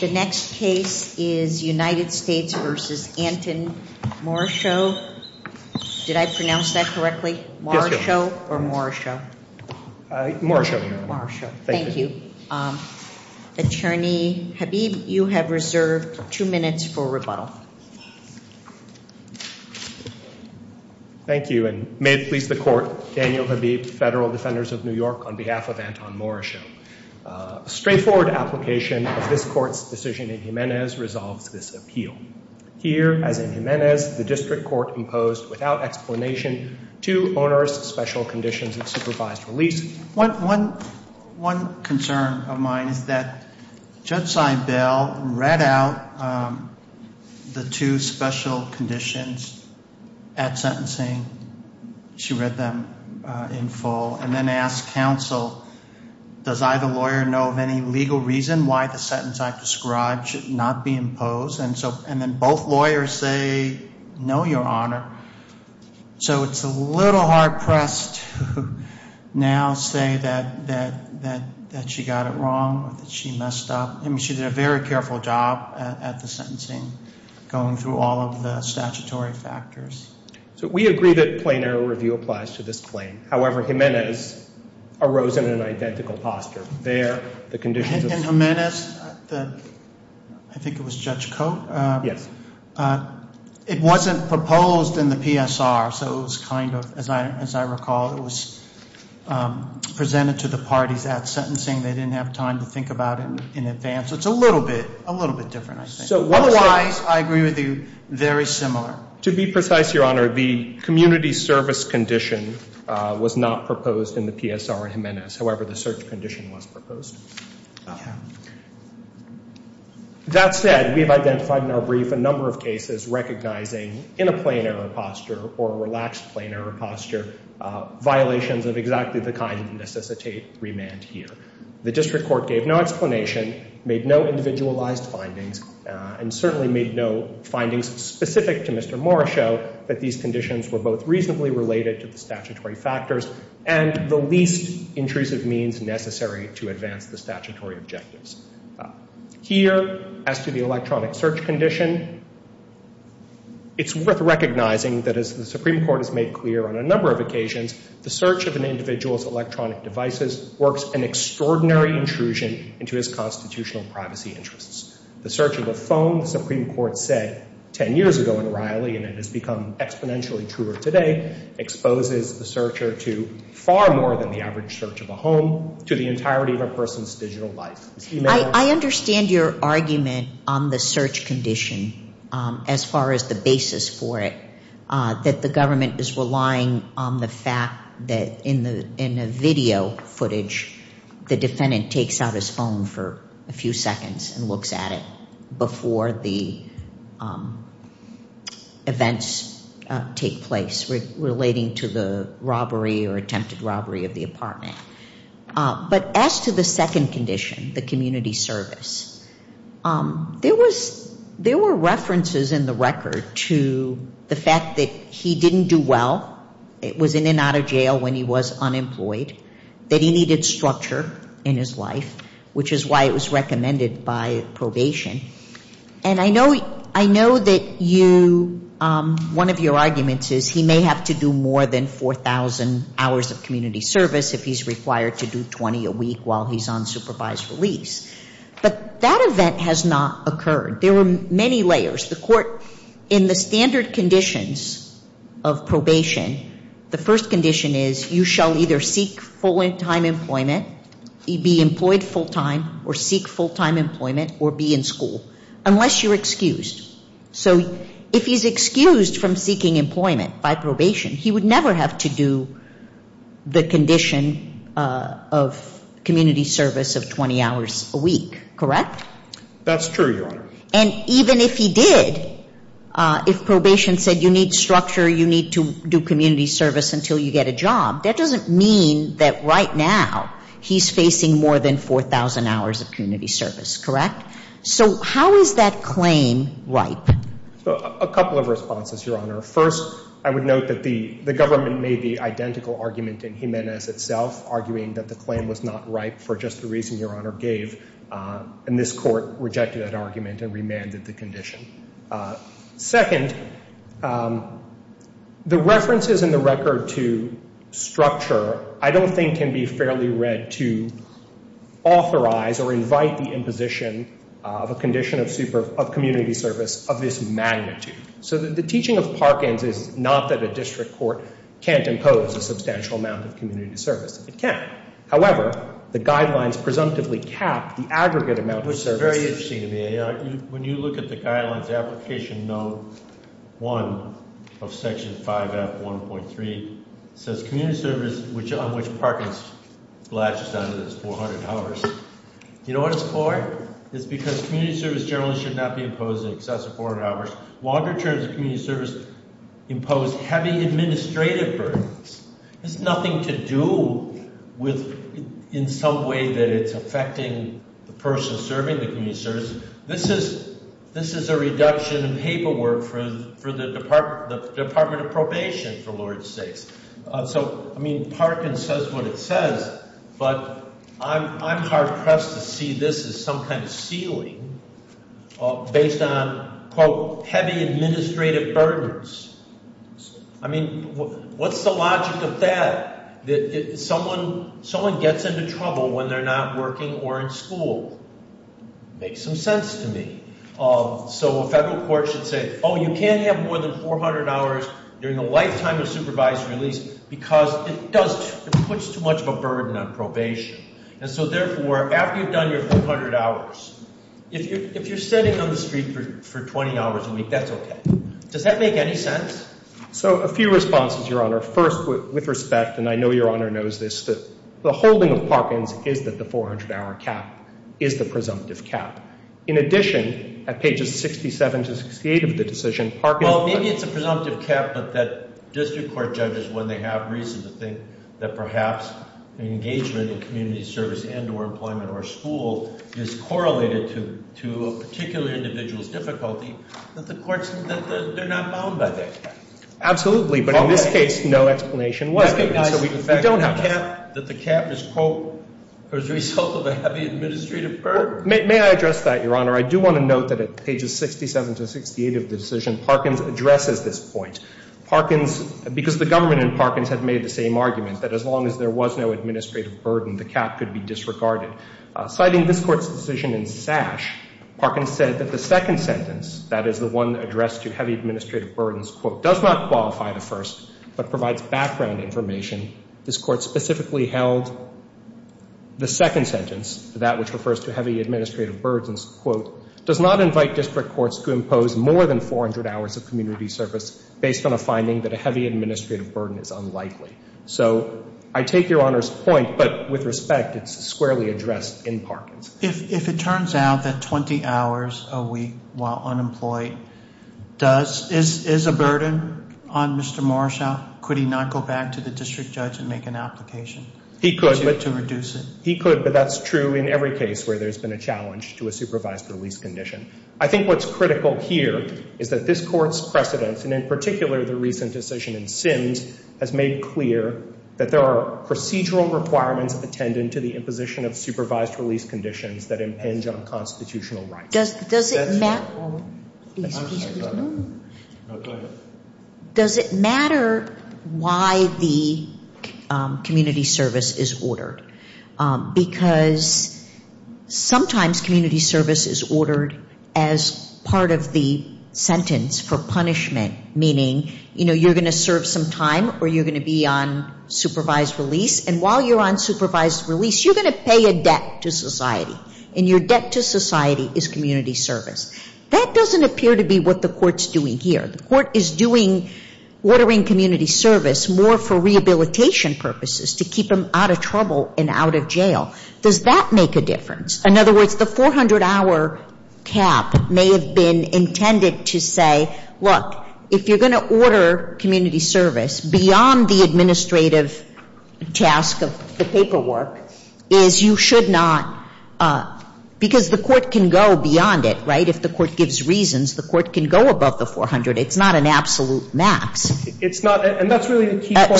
The next case is United States v. Anton Morrishow. Did I pronounce that correctly, Morrishow or Morrishow? Morrishow. Thank you. Attorney Habib, you have reserved two minutes for rebuttal. Thank you and may it please the court, Daniel Habib, Federal Defenders of New York on behalf of Anton Morrishow. A straightforward application of this court's decision in Jimenez resolves this appeal. Here, as in Jimenez, the district court imposed, without explanation, two onerous special conditions of supervised release. One concern of mine is that Judge Seibel read out the two special conditions at sentencing. She read them in full and then asked counsel, does either lawyer know of any legal reason why the sentence I've described should not be imposed? And so, and then both lawyers say, no, your honor. So it's a little hard pressed to now say that she got it wrong or that she messed up. I mean, she did a very careful job at the sentencing, going through all of the statutory factors. So we agree that plain error review applies to this claim. However, Jimenez arose in an identical posture. There, the conditions of... In Jimenez, the, I think it was Judge Cote? Yes. It wasn't proposed in the PSR, so it was kind of, as I recall, it was presented to the parties at sentencing. They didn't have time to think about it in advance. So it's a little bit, a little bit different, I think. Otherwise, I agree with you, very similar. To be precise, your honor, the community service condition was not proposed in the PSR in Jimenez. However, the search condition was proposed. That said, we have identified in our brief a number of cases recognizing, in a plain error posture or a relaxed plain error posture, violations of exactly the kind that necessitate remand here. The district court gave no explanation, made no individualized findings, and certainly made no findings specific to Mr. Mora show that these conditions were both reasonably related to the statutory factors and the least intrusive means necessary to advance the statutory objectives. Here, as to the electronic search condition, it's worth recognizing that as the Supreme Court has made clear on a number of occasions, the search of an individual's electronic devices works an extraordinary intrusion into his constitutional privacy interests. The search of a phone, the Supreme Court said 10 years ago in Riley, and it has become exponentially truer today, exposes the searcher to far more than the average search of a home, to the entirety of a person's digital life. I understand your argument on the search condition as far as the basis for it, that the government is relying on the fact that in the video footage, the defendant takes out his phone for a few seconds and looks at it before the events take place relating to the robbery or attempted robbery of the apartment. But as to the second condition, the community service, there were references in the record to the fact that he didn't do well, was in and out of jail when he was unemployed, that he needed structure in his life, which is why it was recommended by probation. And I know that you, one of your arguments is he may have to do more than 4,000 hours of community service if he's required to do 20 a week while he's on supervised release. But that event has not occurred. There were many layers. The court, in the standard conditions of probation, the first condition is you shall either seek full-time employment, be employed full-time or seek full-time employment or be in school, unless you're excused. So if he's excused from seeking employment by probation, he would never have to do the condition of community service of 20 hours a week, correct? That's true, Your Honor. And even if he did, if probation said you need structure, you need to do community service until you get a job, that doesn't mean that right now he's facing more than 4,000 hours of community service, correct? So how is that claim ripe? A couple of responses, Your Honor. First, I would note that the government made the identical argument in Jimenez itself, arguing that the claim was not ripe for just the reason Your Honor gave. And this court rejected that argument and remanded the condition. Second, the references in the record to structure, I don't think can be fairly read to authorize or invite the imposition of a condition of community service of this magnitude. So the teaching of Parkins is not that a district court can't impose a substantial amount of community service. It can. However, the guidelines presumptively cap the aggregate amount of service. This is very interesting to me. When you look at the guidelines, application no. 1 of section 5F1.3 says community service which on which Parkins latches on to this 400 hours. You know what it's for? It's because community service generally should not be imposed in excess of 400 hours. Longer terms of community service impose heavy administrative burdens. It's nothing to do with in some way that it's affecting the person serving the community service. This is a reduction in paperwork for the Department of Probation, for Lord's sakes. So, I mean, Parkins says what it says, but I'm hard-pressed to see this as some kind of ceiling based on, quote, heavy administrative burdens. I mean, what's the logic of that? Someone gets into trouble when they're not working or in school. Makes some sense to me. So a federal court should say, oh, you can't have more than 400 hours during a lifetime of supervised release because it does, it puts too much of a burden on probation. And so therefore, after you've done your 400 hours, if you're sitting on the street for 20 hours a week, that's okay. Does that make any sense? So a few responses, Your Honor. First, with respect, and I know Your Honor knows this, the holding of Parkins is that the 400-hour cap is the presumptive cap. In addition, at pages 67 to 68 of the decision, Parkins... Well, maybe it's a presumptive cap, but that district court judges, when they have reason to think that perhaps an engagement in community service and or employment or school is correlated to a particular individual's difficulty, that the courts, that they're not bound by that. Absolutely, but in this case, no explanation why. Recognize the fact that the cap is, quote, as a result of a heavy administrative burden. May I address that, Your Honor? I do want to note that at pages 67 to 68 of the decision, Parkins addresses this point. Parkins, because the government Parkins had made the same argument, that as long as there was no administrative burden, the cap could be disregarded. Citing this Court's decision in Sash, Parkins said that the second sentence, that is the one addressed to heavy administrative burdens, quote, does not qualify the first, but provides background information. This Court specifically held the second sentence, that which refers to heavy administrative burdens, quote, does not invite district courts to impose more than 400 hours of community service based on a finding that a heavy administrative burden is unlikely. So, I take Your Honor's point, but with respect, it's squarely addressed in Parkins. If it turns out that 20 hours a week while unemployed does, is a burden on Mr. Morshaw, could he not go back to the district judge and make an application to reduce it? He could, but that's true in every case where there's been a challenge to a supervised release condition. I think what's critical here is that this Court's precedents, and in particular the recent decision in Sims, has made clear that there are procedural requirements attendant to the imposition of supervised release conditions that impinge on constitutional rights. Does it matter why the community service is ordered? Because sometimes community service is ordered as part of the community service of the sentence for punishment, meaning, you know, you're going to serve some time or you're going to be on supervised release, and while you're on supervised release, you're going to pay a debt to society. And your debt to society is community service. That doesn't appear to be what the Court's doing here. The Court is doing, ordering community service more for rehabilitation purposes, to keep them out of trouble and out of jail. Does that make a difference? In other words, the 400-hour cap may have been intended to say, look, if you're going to order community service beyond the administrative task of the paperwork, is you should not, because the Court can go beyond it, right? If the Court gives reasons, the Court can go above the 400. It's not an absolute max. It's not. And that's really the key point.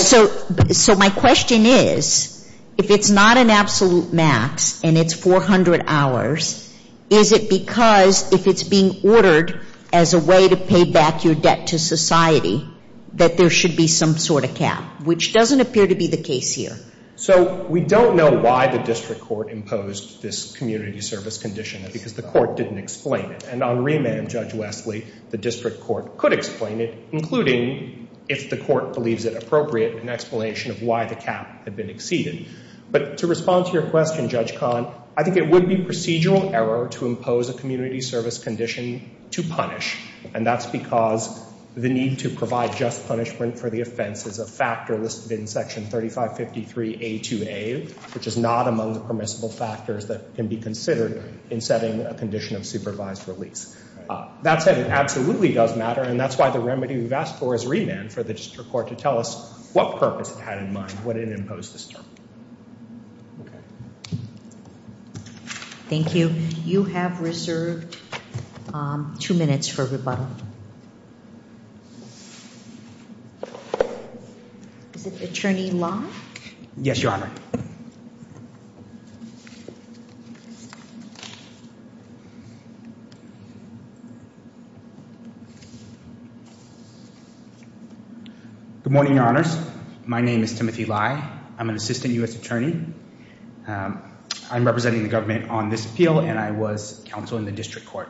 So my question is, if it's not an absolute max and it's 400 hours, is it because if it's being ordered as a way to pay back your debt to society that there should be some sort of cap, which doesn't appear to be the case here? So we don't know why the District Court imposed this community service condition, because the Court didn't explain it. And on remand, Judge Wesley, the District Court could explain it, including, if the Court believes it appropriate, an explanation of why the cap had been exceeded. But to respond to your question, Judge Kahn, I think it would be procedural error to impose a community service condition to punish. And that's because the need to provide just punishment for the offense is a factor listed in Section 3553A2A, which is not among the permissible factors that can be considered in setting a condition of supervised release. That said, it absolutely does matter, and that's why the remedy we've asked for is remand for the District Court to tell us what purpose it had in mind when it imposed this term. Thank you. You have reserved two minutes for rebuttal. Is it Attorney Long? Yes, Your Honor. Good morning, Your Honors. My name is Timothy Lai. I'm an Assistant U.S. Attorney. I'm representing the government on this appeal, and I was counsel in the District Court.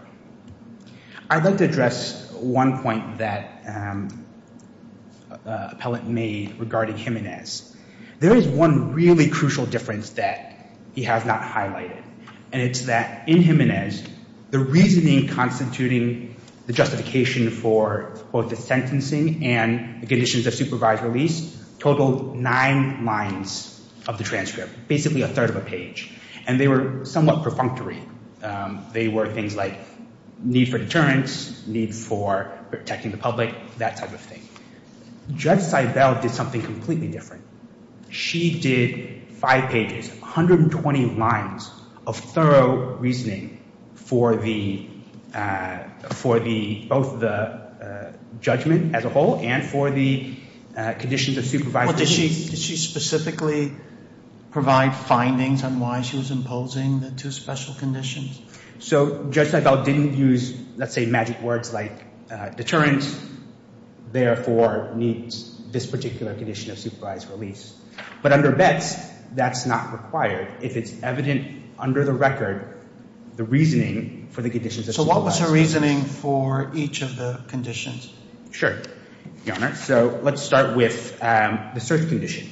I'd like to address one point that an appellant made regarding Jimenez. There is one really crucial difference that he has not highlighted, and it's that in Jimenez, the reasoning constituting the justification for both the sentencing and the conditions of supervised release totaled nine lines of the transcript, basically a third of a page. And they were somewhat perfunctory. They were things like need for deterrence, need for protecting the public, that type of thing. Judge Seibel did something completely different. She did five pages, 120 lines of thorough reasoning for both the judgment as a whole and for the conditions of supervised release. Did she specifically provide findings on why she was imposing the two special conditions? So Judge Seibel didn't use, let's say, magic words like deterrence, therefore needs this particular condition of supervised release. But under Betz, that's not required if it's evident under the record the reasoning for the conditions of supervised release. So what was her reasoning for each of the conditions? Sure, Your Honor. So let's start with the search condition.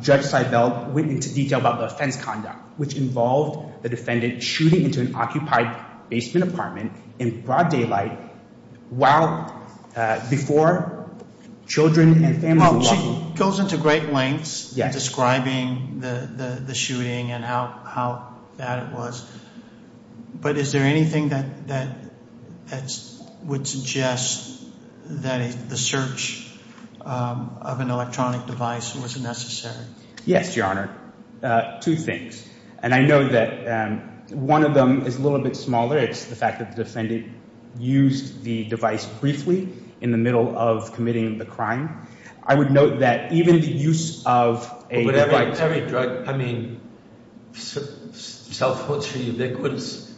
Judge Seibel went into detail about the offense conduct, which involved the defendant shooting into an occupied basement apartment in broad daylight while, before children and families were walking. Well, she goes into great lengths in describing the shooting and how bad it was. But is there anything that would suggest that the search of an electronic device was necessary? Yes, Your Honor. Two things. And I know that one of them is a little bit smaller. It's the fact that the defendant used the device briefly in the middle of committing the crime. I would note that even the use of a device... But every drug, I mean, self-puts are ubiquitous.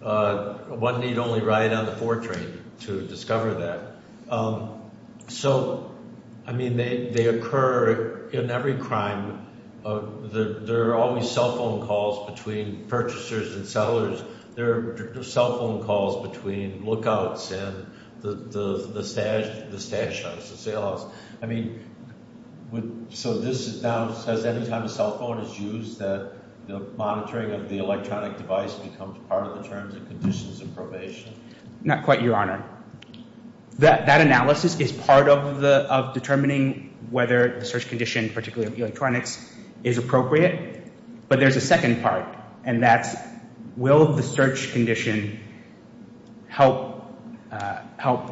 One need only ride on the Ford train to discover that. So, I mean, they occur in every crime. There are always cell phone calls between purchasers and sellers. There are cell phone calls between lookouts and the stash house, the sale house. I mean, so this now says anytime a cell phone is used, that the monitoring of the electronic device becomes part of the terms and conditions of probation. Not quite, Your Honor. That analysis is part of determining whether the search condition, particularly of electronics, is appropriate. But there's a second part, and that's will the search condition help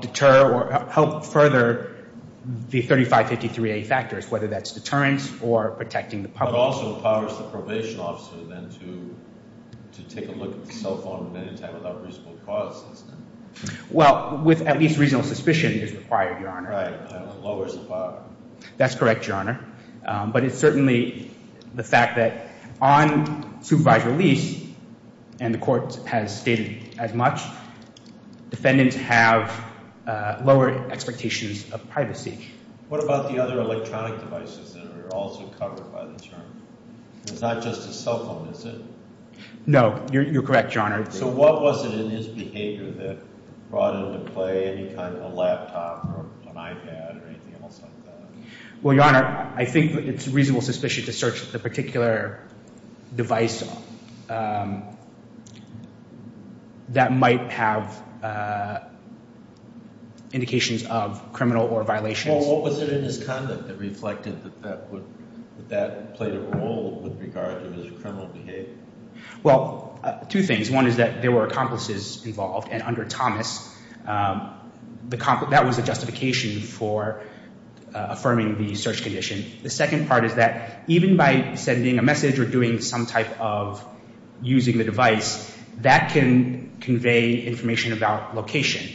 deter or help further the 3553A factors, whether that's deterrence or protecting the public. But it also empowers the probation officer then to take a look at the cell phone many times without reasonable cause, doesn't it? Well, with at least reasonable suspicion is required, Your Honor. Right. It lowers the bar. That's correct, Your Honor. But it's certainly the fact that on supervised release, and the court has stated as much, defendants have lower expectations of privacy. What about the other electronic devices that are also covered by the term? It's not just a cell phone, is it? No. You're correct, Your Honor. So what was it in his behavior that brought into play any kind of a laptop or an iPad or anything else like that? Well, Your Honor, I think it's reasonable suspicion to search the particular device that might have indications of criminal or violations. Well, what was it in his conduct that reflected that that played a role with regard to his criminal behavior? Well, two things. One is that there were accomplices involved, and under Thomas, that was the justification for affirming the search condition. The second part is that even by sending a message or doing some type of using the device, that can convey information about location.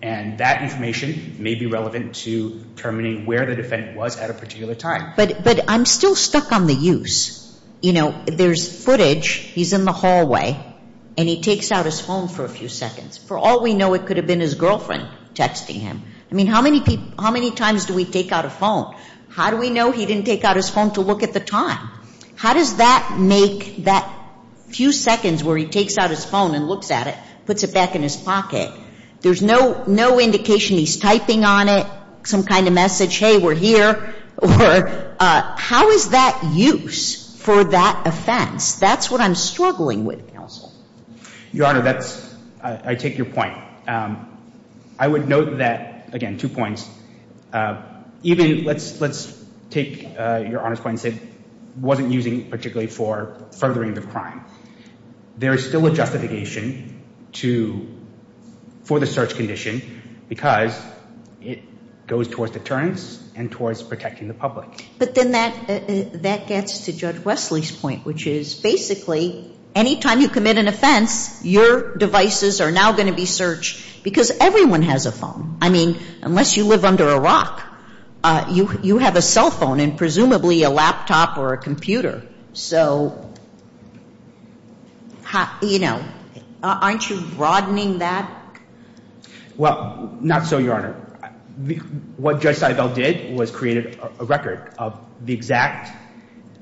And that information may be relevant to determining where the defendant was at a particular time. But I'm still stuck on the use. There's footage. He's in the hallway, and he takes out his phone for a few seconds. For all we know, it could have been his girlfriend texting him. I mean, how many times do we take out a phone? How do we know he didn't take out his phone to look at the time? How does that make that few seconds where he takes out his phone and looks at it, puts it back in his pocket, there's no indication he's typing on it, some kind of message, hey, we're here, or how is that use for that offense? That's what I'm struggling with, counsel. Your Honor, that's, I take your point. I would note that, again, two points. Even, let's take your Honor's point and say, wasn't using particularly for furthering the crime. There is still a justification for the search condition, because it goes towards deterrence and towards protecting the public. But then that gets to Judge Wesley's point, which is basically, any time you commit an offense, your devices are now going to be searched, because everyone has a phone. I mean, unless you live under a rock, you have a cell phone, and presumably a laptop or a computer. So, aren't you broadening that? Well, not so, Your Honor. What Judge Sidebell did was create a record of the exact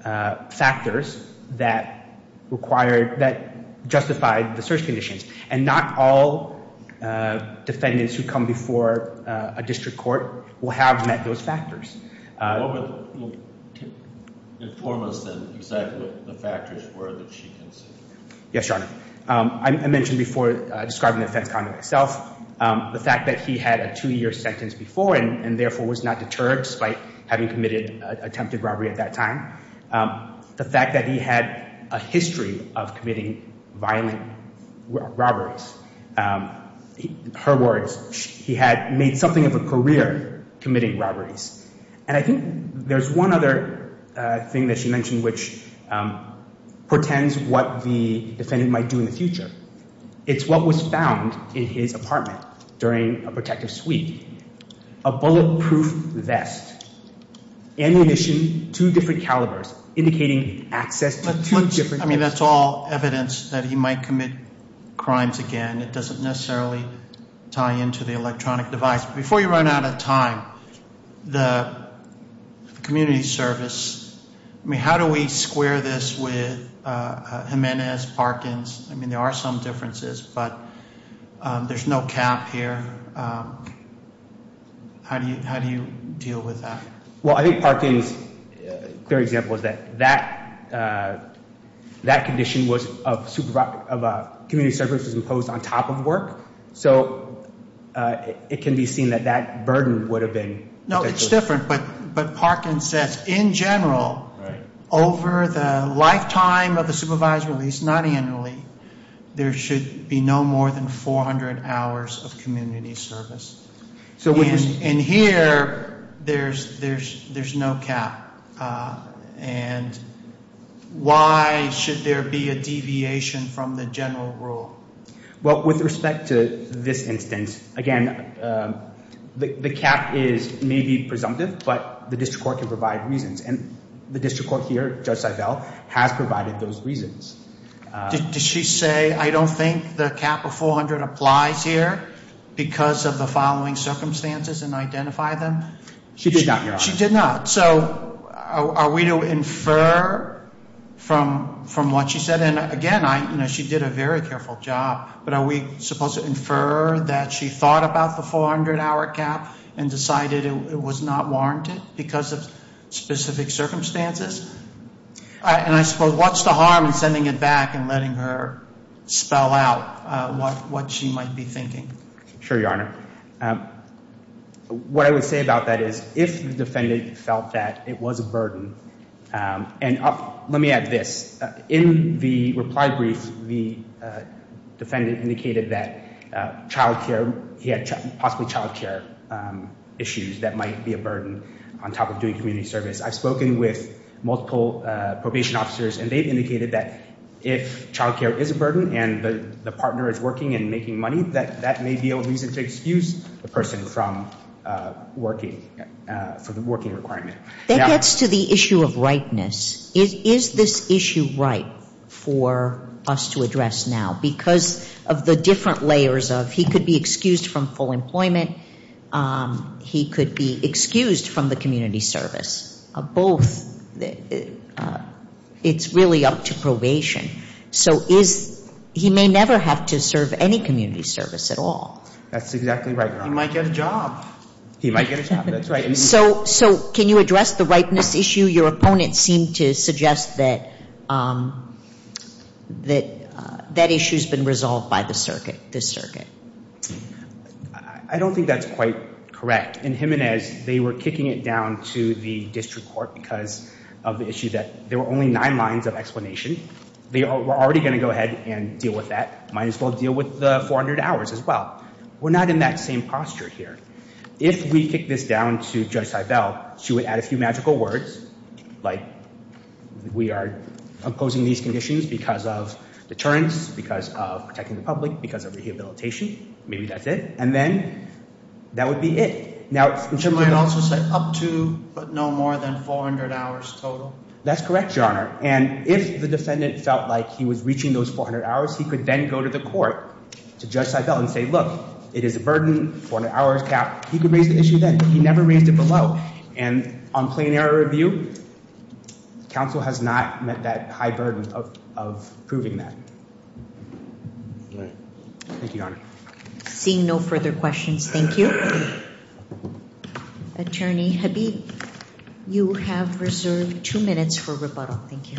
factors that required, that justified the search conditions. And not all defendants who come before a district court will have met those factors. What would inform us, then, exactly what the factors were that she considered? Yes, Your Honor. I mentioned before, describing the offense conduct itself, the fact that he had a two-year sentence before, and therefore was not deterred, despite having committed attempted robbery at that time. The fact that he had a history of committing violent robberies. Her words, he had made something of a career committing robberies. And I think there's one other thing that she mentioned, which portends what the defendant might do in the future. It's what was found in his apartment during a protective sweep. A bulletproof vest, ammunition, two different calibers, indicating access to two different... I mean, that's all evidence that he might commit crimes again. It doesn't necessarily tie into the electronic device. Before you run out of time, the community service, I mean, how do we square this with Jimenez, Parkins? I mean, there are some differences, but there's no cap here. How do you deal with that? Well, I think Parkins' clear example is that that condition of community service was imposed on top of work. So, it can be seen that that burden would have been... No, it's different, but Parkins says, in general, over the lifetime of the supervised release, not annually, there should be no more than 400 hours of community service. And here, there's no cap. And why should there be a deviation from the general rule? Well, with respect to this instance, again, the cap is maybe presumptive, but the district court can provide reasons. And the district court here, Judge Seibel, has provided those reasons. Did she say, I don't think the cap of 400 applies here because of the following circumstances and identify them? She did not, Your Honor. She did not. So, are we to infer from what she said? And again, she did a very careful job, but are we supposed to infer that she thought about the 400-hour cap and decided it was not warranted because of specific circumstances? And I suppose, what's the harm in sending it back and letting her spell out what she might be thinking? Sure, Your Honor. What I would say about that is, if the defendant felt that it was a burden, and let me add this, in the reply brief, the defendant indicated that child care, he had possibly child care issues that might be a burden on top of doing community service. I've spoken with multiple probation officers, and they've indicated that if child care is a burden and the partner is working and making money, that that may be a reason to excuse the person from working, for the working requirement. That gets to the issue of rightness. Is this issue right for us to address now? Because of the different layers of, he could be excused from full employment, he could be excused from the community service, both. It's really up to probation. So he may never have to serve any community service at all. That's exactly right, Your Honor. He might get a job. He might get a job, that's right. So can you address the rightness issue? Your opponent seemed to suggest that that issue's been resolved by the circuit. I don't think that's quite correct. In Jimenez, they were kicking it down to the district court because of the issue that there were only nine lines of explanation. They were already going to go ahead and deal with that. Might as well deal with the 400 hours as well. We're not in that same posture here. If we kick this down to Judge Seibel, she would add a few magical words, like we are imposing these conditions because of deterrence, because of protecting the public, because of rehabilitation. Maybe that's it. And then that would be it. She might also say up to but no more than 400 hours total. That's correct, Your Honor. And if the defendant felt like he was reaching those 400 hours, he could then go to the court to Judge Seibel and say, look, it is a burden, 400 hours cap. He could raise the issue then. He never raised it below. And on plain error review, counsel has not met that high burden of proving that. Thank you, Your Honor. Seeing no further questions, thank you. Attorney Habib, you have reserved two minutes for rebuttal. Thank you.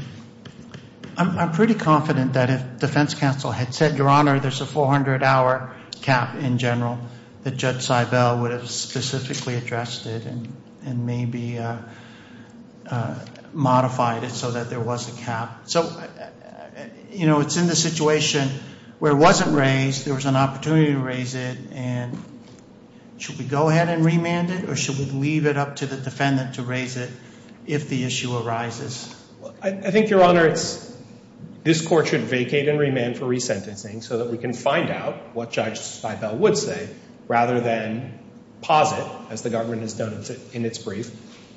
I'm pretty confident that if defense counsel had said, Your Honor, there's a 400-hour cap in general, that Judge Seibel would have specifically addressed it and maybe modified it so that there was a cap. So, you know, it's in the situation where it wasn't raised, there was an opportunity to raise it, and should we go ahead and remand it or should we leave it up to the defendant to raise it if the issue arises? I think, Your Honor, this court should vacate and remand for resentencing so that we can find out what Judge Seibel would say rather than posit, as the government has done in its brief,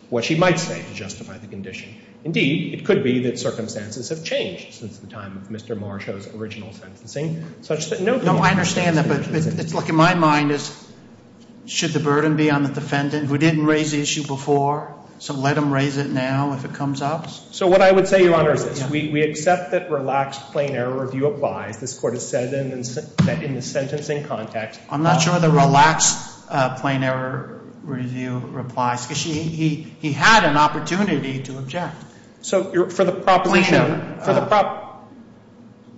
what she might say to justify the condition. Indeed, it could be that circumstances have changed since the time of Mr. Marsh's original sentencing, such that no... No, I understand that, but it's like in my mind is should the burden be on the defendant who didn't raise the issue before, so let him raise it now if it comes up? So what I would say, Your Honor, is this. We accept that relaxed plain error review applies. This court has said that in the sentencing context... I'm not sure the relaxed plain error review applies because he had an opportunity to object. So for the proposition...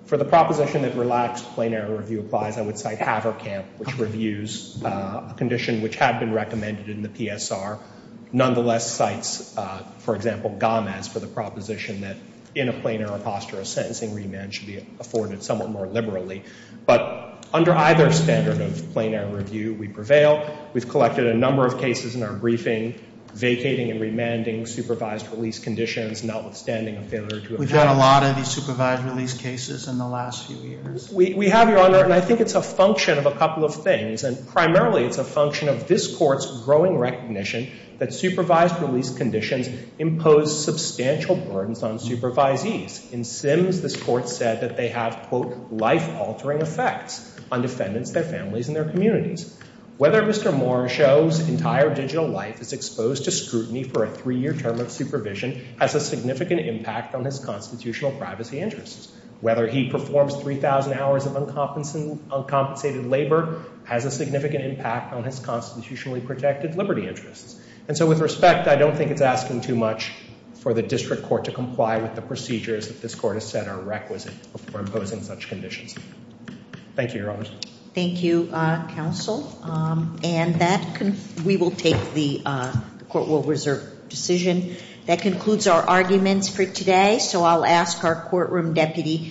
For the proposition that relaxed plain error review applies, I would cite Haverkamp, which reviews a condition which had been recommended in the PSR, nonetheless cites, for example, Gomez for the proposition that in a plain error posture, a sentencing remand should be afforded somewhat more liberally. But under either standard of plain error review, we prevail. We've collected a number of cases in our briefing vacating and remanding supervised release conditions, notwithstanding a failure to... We've had a lot of these supervised release cases in the last few years. We have, Your Honor, and I think it's a function of a couple of things, and primarily it's a function of this Court's growing recognition that supervised release conditions impose substantial burdens on supervisees In Sims, this Court said that they have, quote, life-altering effects on defendants, their families, and their communities. Whether Mr. Moore shows entire digital life is exposed to scrutiny for a three-year term of supervision has a significant impact on his constitutional privacy interests. Whether he performs 3,000 hours of uncompensated labor has a significant impact on his constitutionally protected liberty interests. And so with respect, I don't think it's asking too much for the District Court to comply with the procedures that this Court has set are requisite for imposing such conditions. Thank you, Your Honors. Thank you, Counsel. And that... We will take the Court will reserve decision. That concludes our arguments for today, so I'll ask our courtroom deputy...